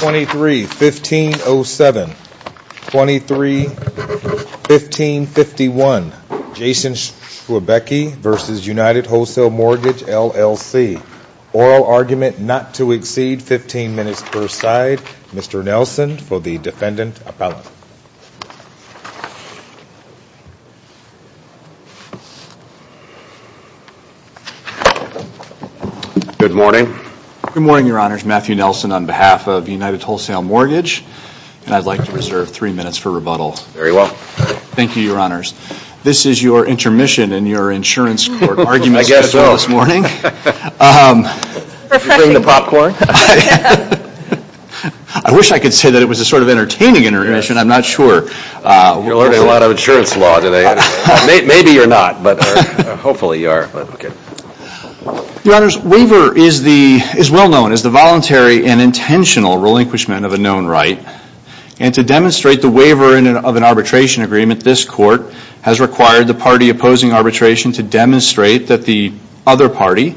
23-1507, 23-1551, Jason Schwebke v. United Wholesale Mortgage LLC. Oral argument not to exceed 15 minutes per side. Mr. Nelson for the Defendant Appellant. Good morning. Good morning, Your Honors. Matthew Nelson on behalf of United Wholesale Mortgage and I'd like to reserve three minutes for rebuttal. Very well. Thank you, Your Honors. This is your intermission and your insurance court argument. I guess so. I wish I could say that it was a sort of entertaining intermission. I'm not sure. You're learning a lot of insurance law today. Maybe you're not, but hopefully you are. Your Honors, waiver is well known as the voluntary and intentional relinquishment of a known right. And to demonstrate the waiver of an arbitration agreement, this court has required the party opposing arbitration to demonstrate that the other party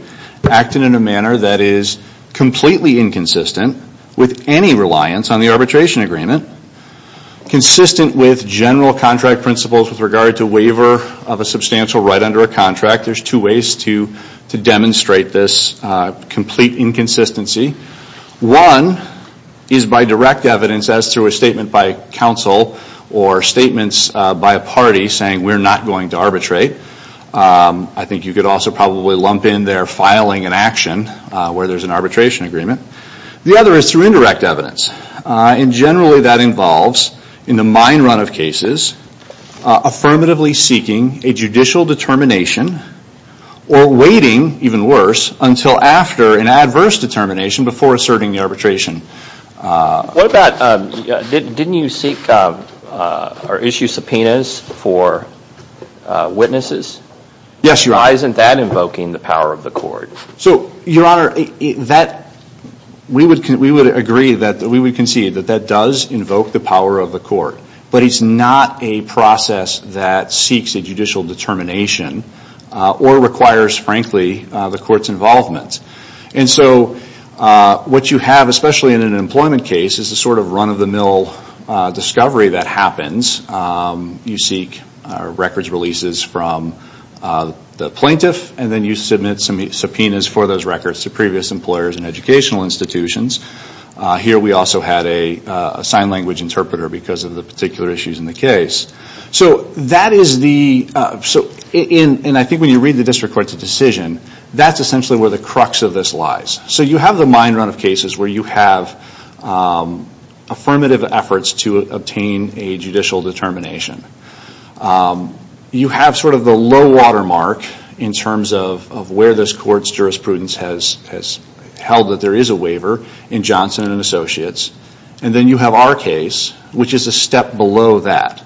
acted in a manner that is completely inconsistent with any reliance on the arbitration agreement. Consistent with general contract principles with regard to waiver of a substantial right under a contract, there's two ways to demonstrate this complete inconsistency. One is by direct evidence as to a statement by counsel or statements by a party saying we're not going to arbitrate. I think you could also probably lump in there filing an action where there's an arbitration agreement. The other is through indirect evidence. And generally that involves, in the mine run of cases, affirmatively seeking a judicial determination or waiting, even worse, until after an adverse determination before asserting the arbitration. What about, didn't you seek or issue subpoenas for witnesses? Yes, Your Honor, we would agree, we would concede that that does invoke the power of the court. But it's not a process that seeks a judicial determination or requires, frankly, the court's involvement. And so what you have, especially in an employment case, is a sort of run-of-the-mill discovery that happens. You seek records releases from the plaintiff and then you submit subpoenas for those records to previous employers and educational institutions. Here we also had a sign language interpreter because of the particular issues in the case. So that is the, and I think when you read the district court's decision, that's essentially where the crux of this lies. So you have the mine run of cases where you have affirmative efforts to obtain a judicial determination. You have sort of the low-water mark in terms of where this court's jurisprudence has held that there is a waiver in Johnson & Associates. And then you have our case, which is a step below that.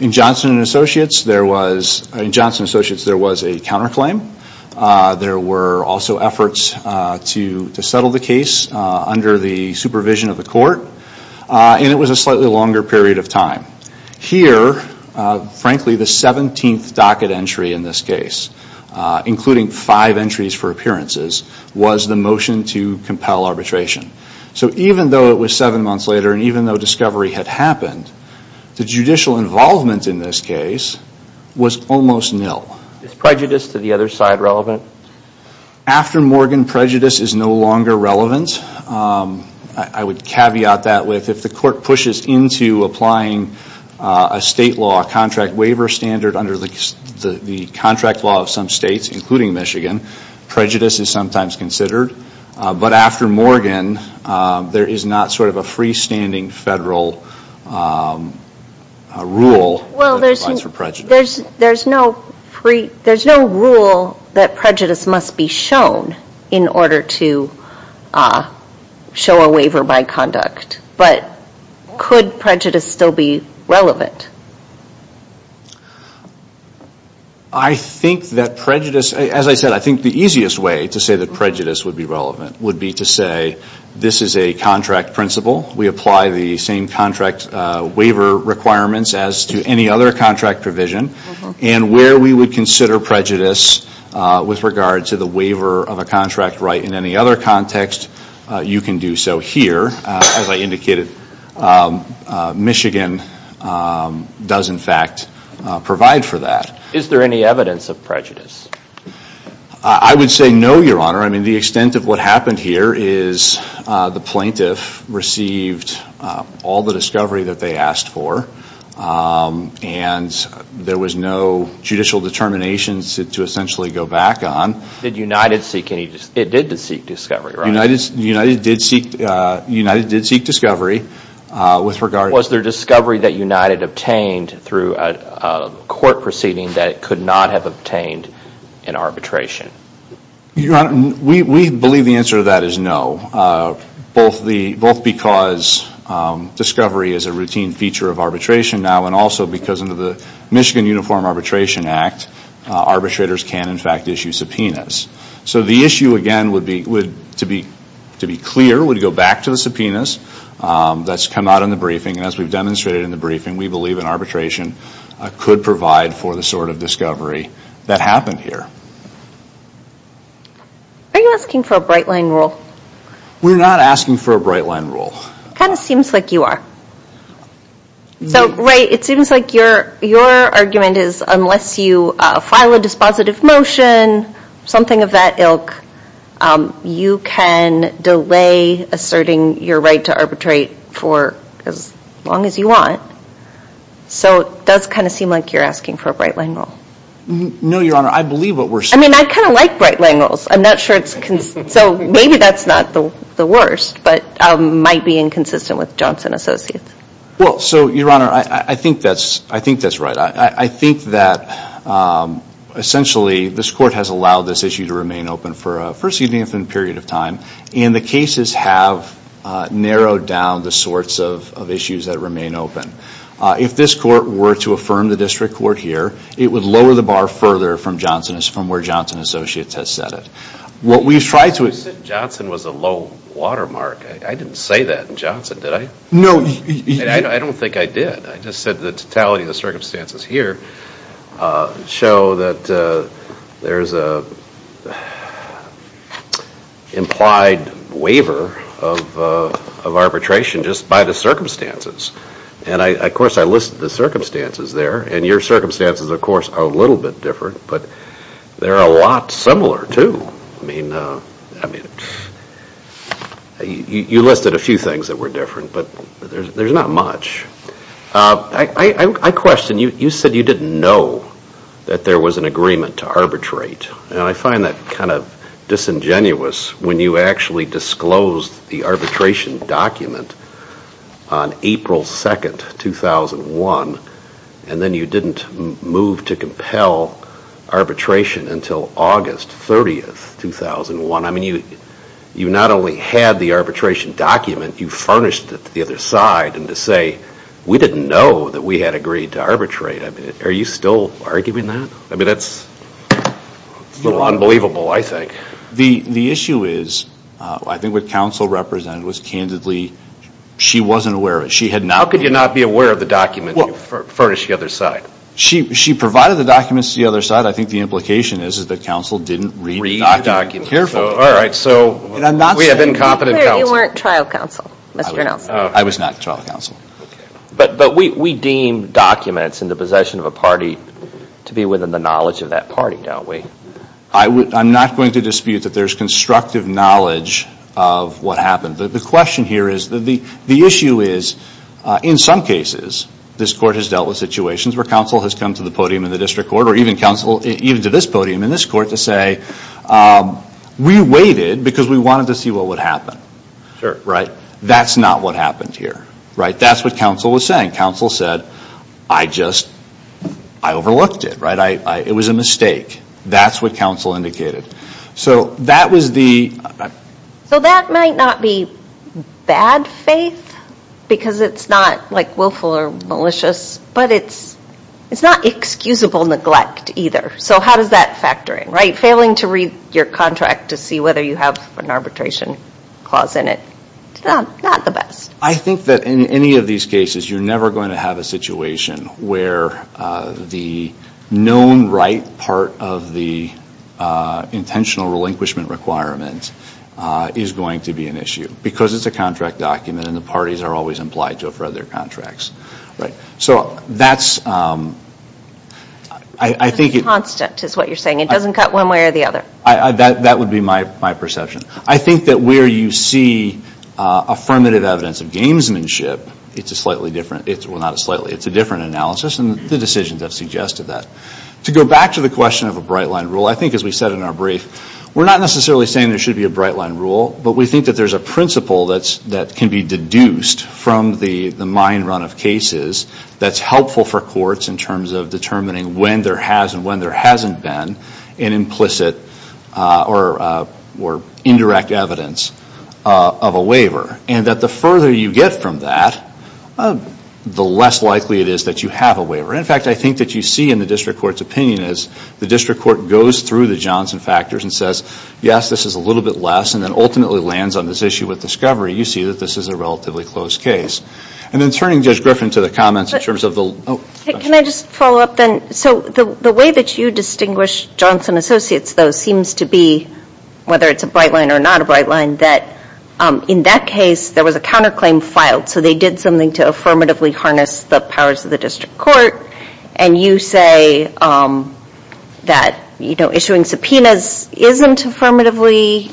In Johnson & Associates there was a counter claim. There were also efforts to settle the case under the supervision of the court. And it was a slightly longer period of time. Here, frankly, the 17th docket entry in this case, including five entries for appearances, was the motion to compel arbitration. So even though it was seven months later and even though discovery had happened, the judicial involvement in this case was almost nil. Is prejudice to the other side relevant? After the court pushes into applying a state law, a contract waiver standard under the contract law of some states, including Michigan, prejudice is sometimes considered. But after Morgan, there is not sort of a freestanding federal rule that applies for prejudice. There's no rule that prejudice must be shown in order to show a waiver by conduct. But could prejudice still be relevant? I think that prejudice, as I said, I think the easiest way to say that prejudice would be relevant would be to say this is a contract principle. We apply the same contract waiver requirements as to any other contract provision. And where we would consider prejudice with regard to the waiver of a contract right in any other context, you can do so here. As I indicated, Michigan does, in fact, provide for that. Is there any evidence of prejudice? I would say no, Your Honor. I mean, the extent of what happened here is the plaintiff received all the discovery that they asked for and there was no judicial determination to essentially go back on. Did United seek discovery? United did seek discovery. Was there discovery that United obtained through a court proceeding that it could not have obtained in arbitration? We believe the answer to that is no. Both because discovery is a routine feature of arbitration now and also because under the Michigan Uniform Arbitration Act, arbitrators can, in fact, issue subpoenas. So the issue, again, to be clear, would go back to the subpoenas that's come out in the briefing. And as we've demonstrated in the briefing, we believe an arbitration could provide for the sort of discovery that happened here. Are you asking for a bright line rule? We're not asking for a bright line rule. It kind of seems like you are. So, Ray, it seems like your argument is unless you file a dispositive motion, something of that ilk, you can delay asserting your right to arbitrate for as long as you want. So it does kind of seem like you're asking for a bright line rule. No, Your Honor. I believe what we're saying. I mean, I kind of like bright line rules. I'm not sure it's consistent. So maybe that's not the worst but might be inconsistent with Johnson Associates. Well, so, Your Honor, I think that's right. I think that essentially this Court has allowed this issue to remain open for a first even period of time. And the cases have narrowed down the sorts of issues that remain open. If this Court were to affirm the District Court here, it would lower the bar further from where Johnson Associates has set it. What we've tried to... You said Johnson was a low watermark. I didn't say that in Johnson, did I? No, you... I don't think I did. I just said the totality of the circumstances here show that there's a implied waiver of arbitration just by the circumstances. And, of course, I listed the circumstances there. And your circumstances, of course, are a little bit different. But they're a lot similar, too. I mean, you listed a few things that were different, but there's not much. I question, you said you didn't know that there was an agreement to arbitrate. And I find that kind of disingenuous when you actually disclosed the arbitration document on April 2nd, 2001, and then you didn't move to compel arbitration. You didn't move to compel arbitration until August 30th, 2001. I mean, you not only had the arbitration document, you furnished it to the other side. And to say, we didn't know that we had agreed to arbitrate. Are you still arguing that? I mean, that's a little unbelievable, I think. The issue is, I think what counsel represented was, candidly, she wasn't aware of it. She had not... How could you not be aware of the document you furnished to the other side? She provided the documents to the other side. I think the implication is, is that counsel didn't read the document. Read the document. Careful. All right. So, I'm not saying... We have incompetent counsel. You weren't trial counsel, Mr. Nelson. I was not trial counsel. But we deem documents in the possession of a party to be within the knowledge of that party, don't we? I'm not going to dispute that there's constructive knowledge of what happened. The question here is, the issue is, in some cases, this Court has dealt with situations where counsel has come to the podium in the District Court, or even to this podium in this Court, to say, we waited because we wanted to see what would happen. That's not what happened here. That's what counsel was saying. Counsel said, I just overlooked it. It was a mistake. That's what counsel indicated. So that was the... So that might not be bad faith, because it's not, like, willful or malicious, but it's not excusable neglect, either. So how does that factor in? Right? Failing to read your contract to see whether you have an arbitration clause in it. Not the best. I think that in any of these cases, you're never going to have a situation where the known right part of the intentional relinquishment requirement is going to be an issue. Because it's a contract document, and the parties are always implied to it for other contracts. Right? So that's... I think it... Constant, is what you're saying. It doesn't cut one way or the other. That would be my perception. I think that where you see affirmative evidence of gamesmanship, it's a slightly different... Well, not a slightly. It's a different analysis, and the decisions have suggested that. To go back to the question of a bright-line rule, I think, as we said in our brief, we're not necessarily saying there should be a bright-line rule, but we think that there's a principle that can be deduced from the mine run of cases that's helpful for courts in terms of determining when there has and when there hasn't been an implicit or indirect evidence of a waiver. And that the further you get from that, the less likely it is that you have a waiver. In fact, I think that you see in the district court's opinion is the district court goes through the Johnson factors and says, yes, this is a little bit less, and then ultimately lands on this issue with discovery. You see that this is a relatively close case. And then turning Judge Griffin to the comments in terms of the... Can I just follow up then? So the way that you distinguish Johnson Associates, though, seems to be, whether it's a bright-line or not a bright-line, that in that case, there was a counterclaim filed. So they did something to affirmatively harness the powers of the district court. And you say that issuing subpoenas isn't affirmatively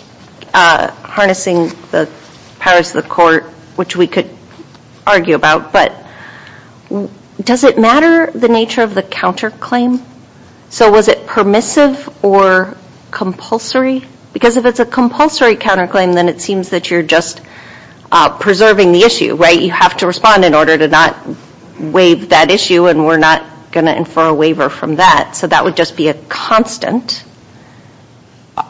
harnessing the powers of the court, which we could argue about, but does it matter the nature of the counterclaim? So was it permissive or compulsory? Because if it's a compulsory counterclaim, then it seems that you're just preserving the issue, right? You have to respond in order to not waive that issue, and we're not going to infer a waiver from that. So that would just be a constant.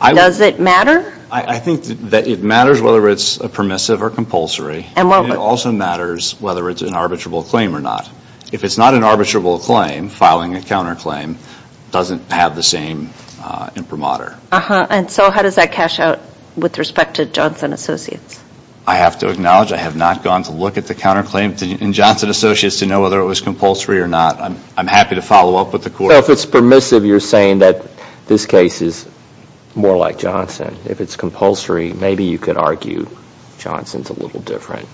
Does it matter? I think that it matters whether it's permissive or compulsory, and it also matters whether it's an arbitrable claim or not. If it's not an arbitrable claim, filing a counterclaim doesn't have the same imprimatur. And so how does that cash out with respect to Johnson Associates? I have to acknowledge I have not gone to look at the counterclaim in Johnson Associates to know whether it was compulsory or not. I'm happy to follow up with the court. So if it's permissive, you're saying that this case is more like Johnson. If it's compulsory, maybe you could argue Johnson's a little different.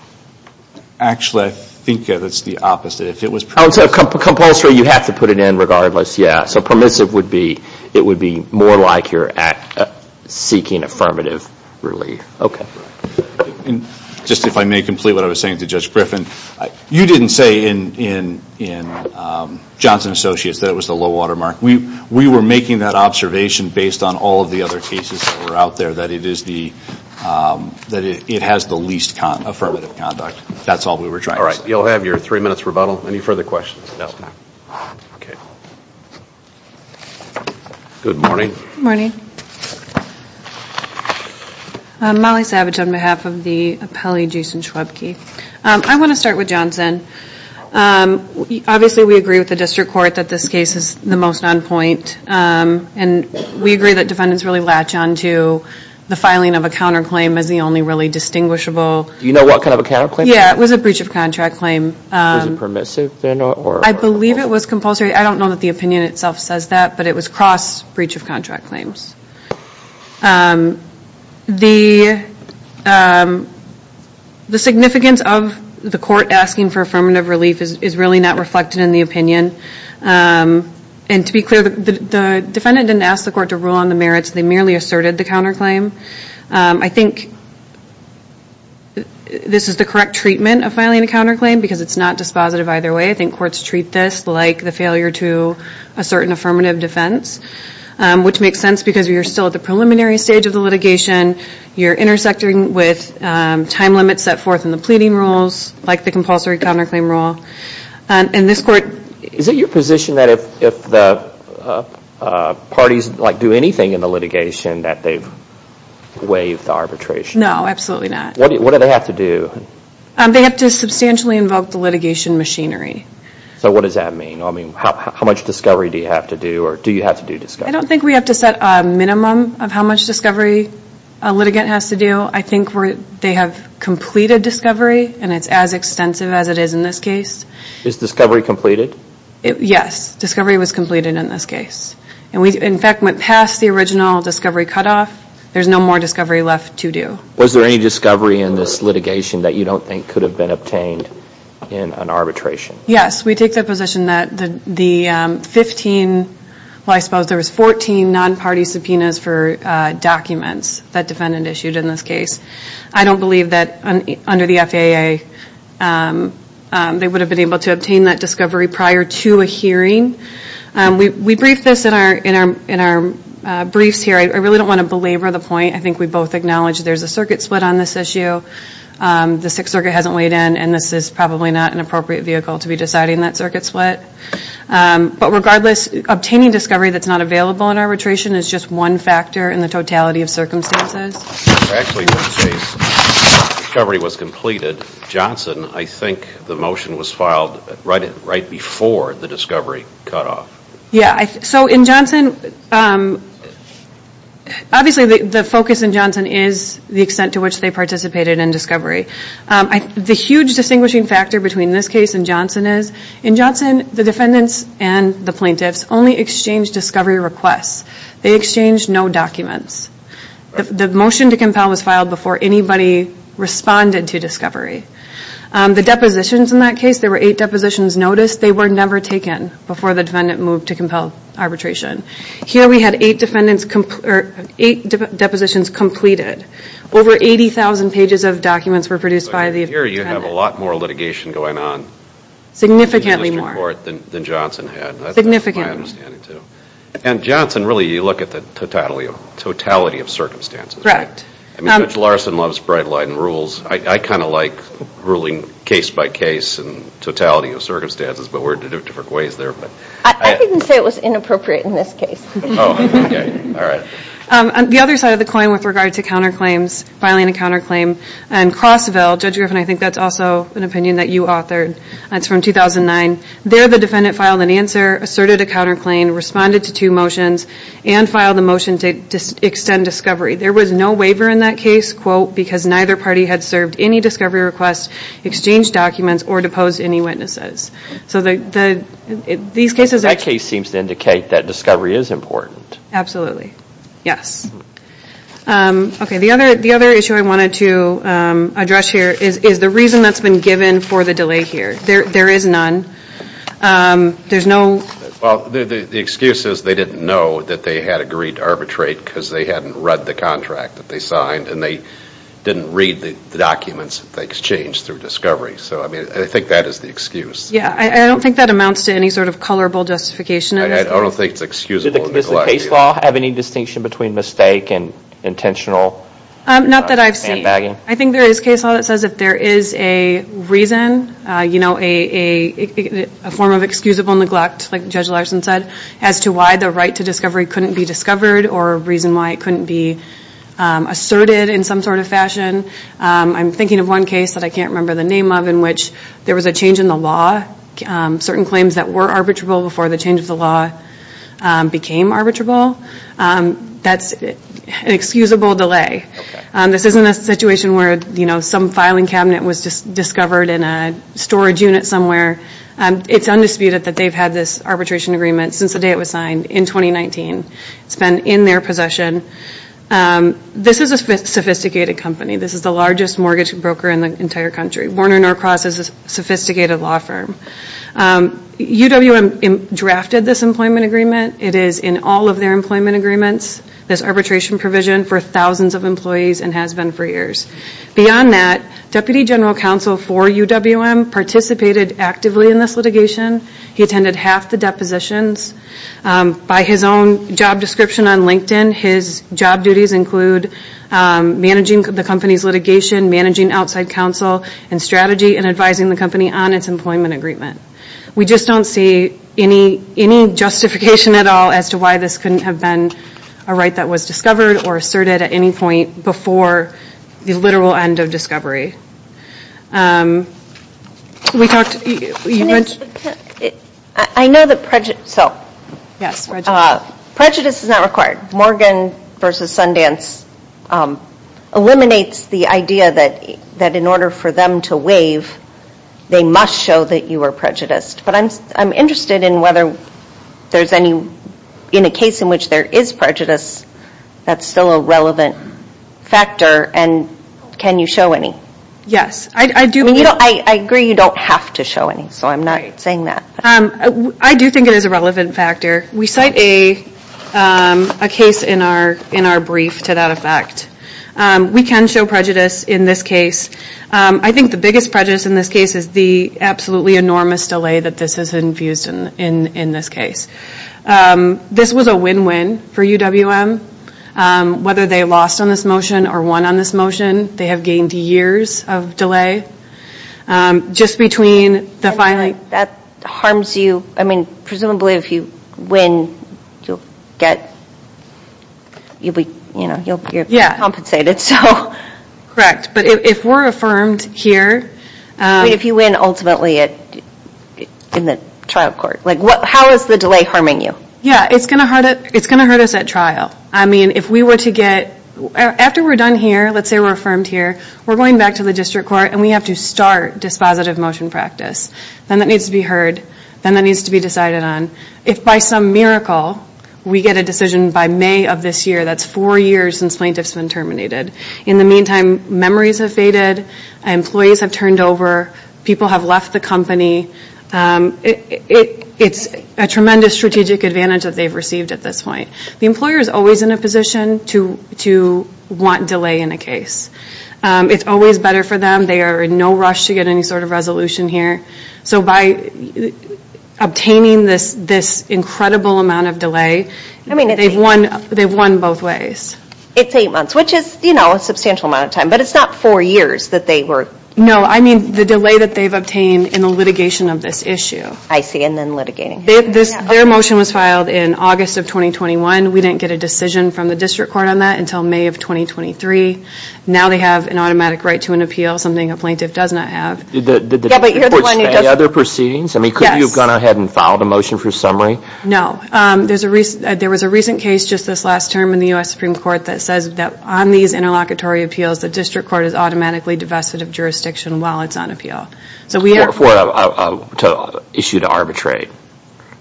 Actually, I think that it's the opposite. If it was permissive. Oh, so compulsory, you have to put it in regardless, yeah. So permissive would be, it would be more like you're seeking affirmative relief. Okay. And just if I may complete what I was saying to Judge Griffin, you didn't say in Johnson Associates that it was the low watermark. We were making that observation based on all of the other cases that were out there that it is the, that it has the least affirmative conduct. That's all we were trying to say. You'll have your three minutes rebuttal. Any further questions? Okay. Good morning. Good morning. Molly Savage on behalf of the appellee Jason Schwabke. I want to start with Johnson. Obviously we agree with the district court that this case is the most on point. And we agree that defendants really latch onto the filing of a counterclaim as the only really distinguishable. Do you know what kind of a counterclaim? Yeah. It was a breach of contract claim. Was it permissive then? Or? I believe it was compulsory. I don't know that the opinion itself says that. But it was cross breach of contract claims. The significance of the court asking for affirmative relief is really not reflected in the opinion. And to be clear, the defendant didn't ask the court to rule on the merits. They merely asserted the counterclaim. I think this is the correct treatment of filing a counterclaim because it's not dispositive either way. I think courts treat this like the failure to assert an affirmative defense, which makes sense because you're still at the preliminary stage of the litigation. You're intersecting with time limits set forth in the pleading rules, like the compulsory counterclaim rule. And this court... Is it your position that if the parties do anything in the litigation that they've waived the arbitration? No, absolutely not. What do they have to do? They have to substantially invoke the litigation machinery. So what does that mean? I mean, how much discovery do you have to do, or do you have to do discovery? I don't think we have to set a minimum of how much discovery a litigant has to do. I think they have completed discovery, and it's as extensive as it is in this case. Is discovery completed? Yes, discovery was completed in this case. And we, in fact, went past the original discovery cutoff. There's no more discovery left to do. Was there any discovery in this litigation that you don't think could have been obtained in an arbitration? Yes. We take the position that the 15, well I suppose there was 14 non-party subpoenas for documents that defendant issued in this case. I don't believe that under the FAA they would have been able to obtain that discovery prior to a hearing. We briefed this in our briefs here. I really don't want to belabor the point. I think we both acknowledge there's a circuit split on this issue. The Sixth Circuit hasn't weighed in, and this is probably not an appropriate vehicle to be deciding that circuit split. But regardless, obtaining discovery that's not available in arbitration is just one factor in the totality of circumstances. Actually, in this case, discovery was completed. Johnson, I think the motion was filed right before the discovery cutoff. Yeah, so in Johnson, obviously the focus in Johnson is the extent to which they participated in discovery. The huge distinguishing factor between this case and Johnson is, in Johnson, the defendants and the plaintiffs only exchanged discovery requests. They exchanged no documents. The motion to compel was filed before anybody responded to discovery. The depositions in that case, there were eight depositions noticed. They were never taken before the defendant moved to compel arbitration. Here we had eight depositions completed. Over 80,000 pages of documents were produced by the defendant. So here you have a lot more litigation going on in the district court than Johnson had. That's my understanding, too. And Johnson, really, you look at the totality of circumstances, right? I mean, Judge Larson loves bright light and rules. I kind of like ruling case by case and totality of circumstances, but we're in different ways there. I didn't say it was inappropriate in this case. Oh, okay. All right. On the other side of the coin with regard to counterclaims, filing a counterclaim, in Crossville, Judge Griffin, I think that's also an opinion that you authored, and it's from 2009. There, the defendant filed an answer, asserted a counterclaim, responded to two motions, and filed a motion to extend discovery. There was no waiver in that case, quote, because neither party had served any discovery requests, exchanged documents, or deposed any witnesses. So these cases are... That case seems to indicate that discovery is important. Absolutely. Yes. Okay, the other issue I wanted to address here is the reason that's been given for the delay here. There is none. There's no... Well, the excuse is they didn't know that they had agreed to arbitrate because they hadn't read the contract that they signed, and they didn't read the documents that they exchanged through discovery. So I mean, I think that is the excuse. Yeah. I don't think that amounts to any sort of colorable justification. I don't think it's excusable neglect. Does the case law have any distinction between mistake and intentional handbagging? Not that I've seen. I think there is case law that says if there is a reason, a form of excusable neglect, like Judge Larson said, as to why the right to discovery couldn't be discovered, or a reason why it couldn't be asserted in some sort of fashion. I'm thinking of one case that I can't remember the name of in which there was a change in the law. Certain claims that were arbitrable before the change of the law became arbitrable. That's an excusable delay. This isn't a situation where some filing cabinet was discovered in a storage unit somewhere. It's undisputed that they've had this arbitration agreement since the day it was signed in 2019. It's been in their possession. This is a sophisticated company. This is the largest mortgage broker in the entire country. Warner Norcross is a sophisticated law firm. UWM drafted this employment agreement. It is in all of their employment agreements, this arbitration provision for thousands of employees and has been for years. Beyond that, Deputy General Counsel for UWM participated actively in this litigation. He attended half the depositions. By his own job description on LinkedIn, his job duties include managing the company's litigation, managing outside counsel and strategy and advising the company on its employment agreement. We just don't see any justification at all as to why this couldn't have been a right that was discovered or asserted at any point before the literal end of discovery. I know that prejudice is not required. Morgan v. Sundance eliminates the idea that in order for them to waive, they must show that you are prejudiced, but I'm interested in whether in a case in which there is prejudice, that's still a relevant factor. Can you show any? Yes. I agree you don't have to show any, so I'm not saying that. I do think it is a relevant factor. We cite a case in our brief to that effect. We can show prejudice in this case. I think the biggest prejudice in this case is the absolutely enormous delay that this has infused in this case. This was a win-win for UWM. Whether they lost on this motion or won on this motion, they have gained years of delay. That harms you, I mean, presumably if you win, you'll be compensated. Correct, but if we're affirmed here. If you win, ultimately, in the trial court. How is the delay harming you? It's going to hurt us at trial. After we're done here, let's say we're affirmed here, we're going back to the district court and we have to start dispositive motion practice. Then that needs to be heard. Then that needs to be decided on. If by some miracle, we get a decision by May of this year, that's four years since plaintiff's been terminated. In the meantime, memories have faded, employees have turned over, people have left the company. It's a tremendous strategic advantage that they've received at this point. The employer is always in a position to want delay in a case. It's always better for them. They are in no rush to get any sort of resolution here. By obtaining this incredible amount of delay, they've won both ways. It's eight months, which is a substantial amount of time, but it's not four years that they were... No, I mean the delay that they've obtained in the litigation of this issue. I see, and then litigating. Their motion was filed in August of 2021. We didn't get a decision from the district court on that until May of 2023. Now they have an automatic right to an appeal, something a plaintiff does not have. Yeah, but you're the one who does... Are there proceedings? Yes. Could you have gone ahead and filed a motion for summary? No. There was a recent case just this last term in the U.S. Supreme Court that says that on these interlocutory appeals, the district court is automatically divested of jurisdiction while it's on appeal. For an issue to arbitrate,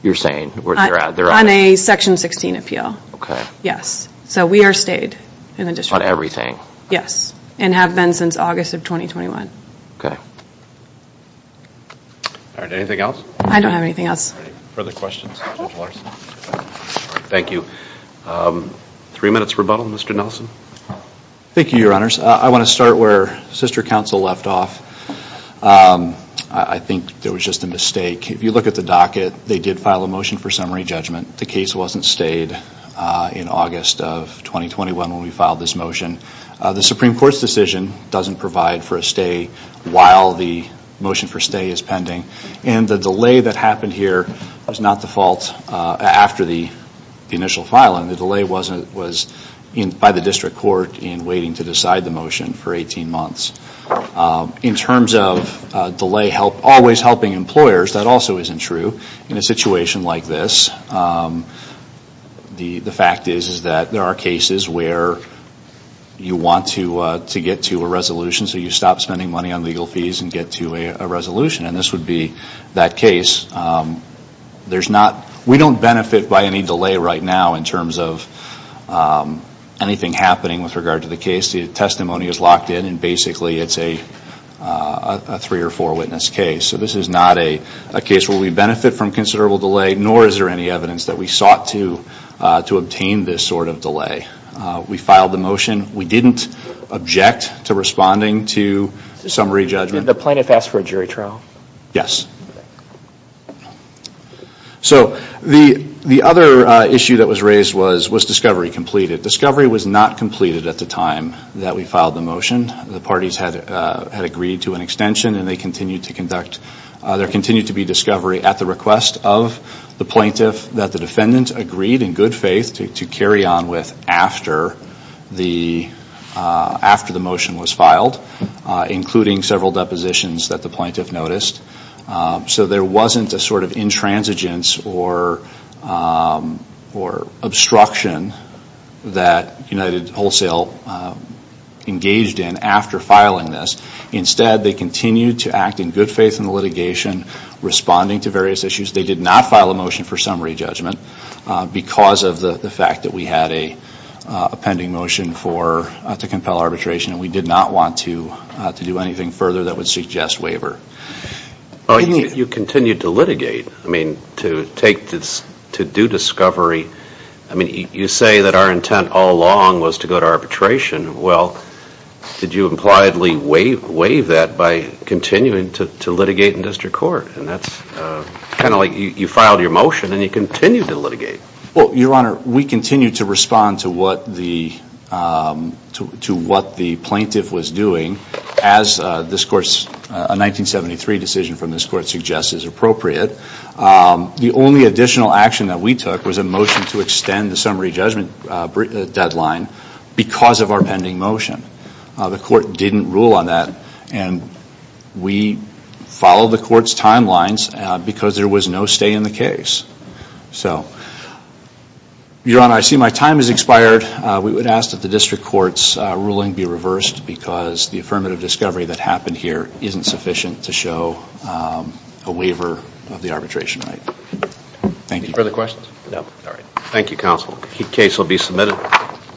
you're saying, where they're at? On a Section 16 appeal, yes. So we are stayed in the district. On everything? Yes, and have been since August of 2021. Okay. All right. Anything else? I don't have anything else. Any further questions, Judge Larson? Thank you. Three minutes rebuttal, Mr. Nelson. Thank you, Your Honors. I want to start where Sister Counsel left off. I think there was just a mistake. If you look at the docket, they did file a motion for summary judgment. The case wasn't stayed in August of 2021 when we filed this motion. The Supreme Court's decision doesn't provide for a stay while the motion for stay is pending. And the delay that happened here was not the fault after the initial filing. The delay was by the district court in waiting to decide the motion for 18 months. In terms of delay always helping employers, that also isn't true in a situation like this. The fact is that there are cases where you want to get to a resolution, so you stop spending money on legal fees and get to a resolution, and this would be that case. We don't benefit by any delay right now in terms of anything happening with regard to the case. The testimony is locked in and basically it's a three or four witness case. So this is not a case where we benefit from considerable delay, nor is there any evidence that we sought to obtain this sort of delay. We filed the motion. We didn't object to responding to summary judgment. Did the plaintiff ask for a jury trial? Yes. So the other issue that was raised was, was discovery completed? Discovery was not completed at the time that we filed the motion. The parties had agreed to an extension and there continued to be discovery at the request of the plaintiff that the defendant agreed in good faith to carry on with after the motion was filed, including several depositions that the plaintiff noticed. So there wasn't a sort of intransigence or obstruction that United Wholesale engaged in after filing this. Instead, they continued to act in good faith in the litigation, responding to various issues. They did not file a motion for summary judgment because of the fact that we had a pending motion to compel arbitration and we did not want to do anything further that would suggest waiver. You continued to litigate, to do discovery. You say that our intent all along was to go to arbitration. Well, did you impliedly waive that by continuing to litigate in district court? That's kind of like you filed your motion and you continued to litigate. Your Honor, we continued to respond to what the plaintiff was doing as a 1973 decision from this court suggests is appropriate. The only additional action that we took was a motion to extend the summary judgment deadline because of our pending motion. The court didn't rule on that and we followed the court's timelines because there was no stay in the case. Your Honor, I see my time has expired. We would ask that the district court's ruling be reversed because the affirmative discovery that happened here isn't sufficient to show a waiver of the arbitration right. Thank you. Any further questions? No. All right. Thank you, counsel. The case will be submitted.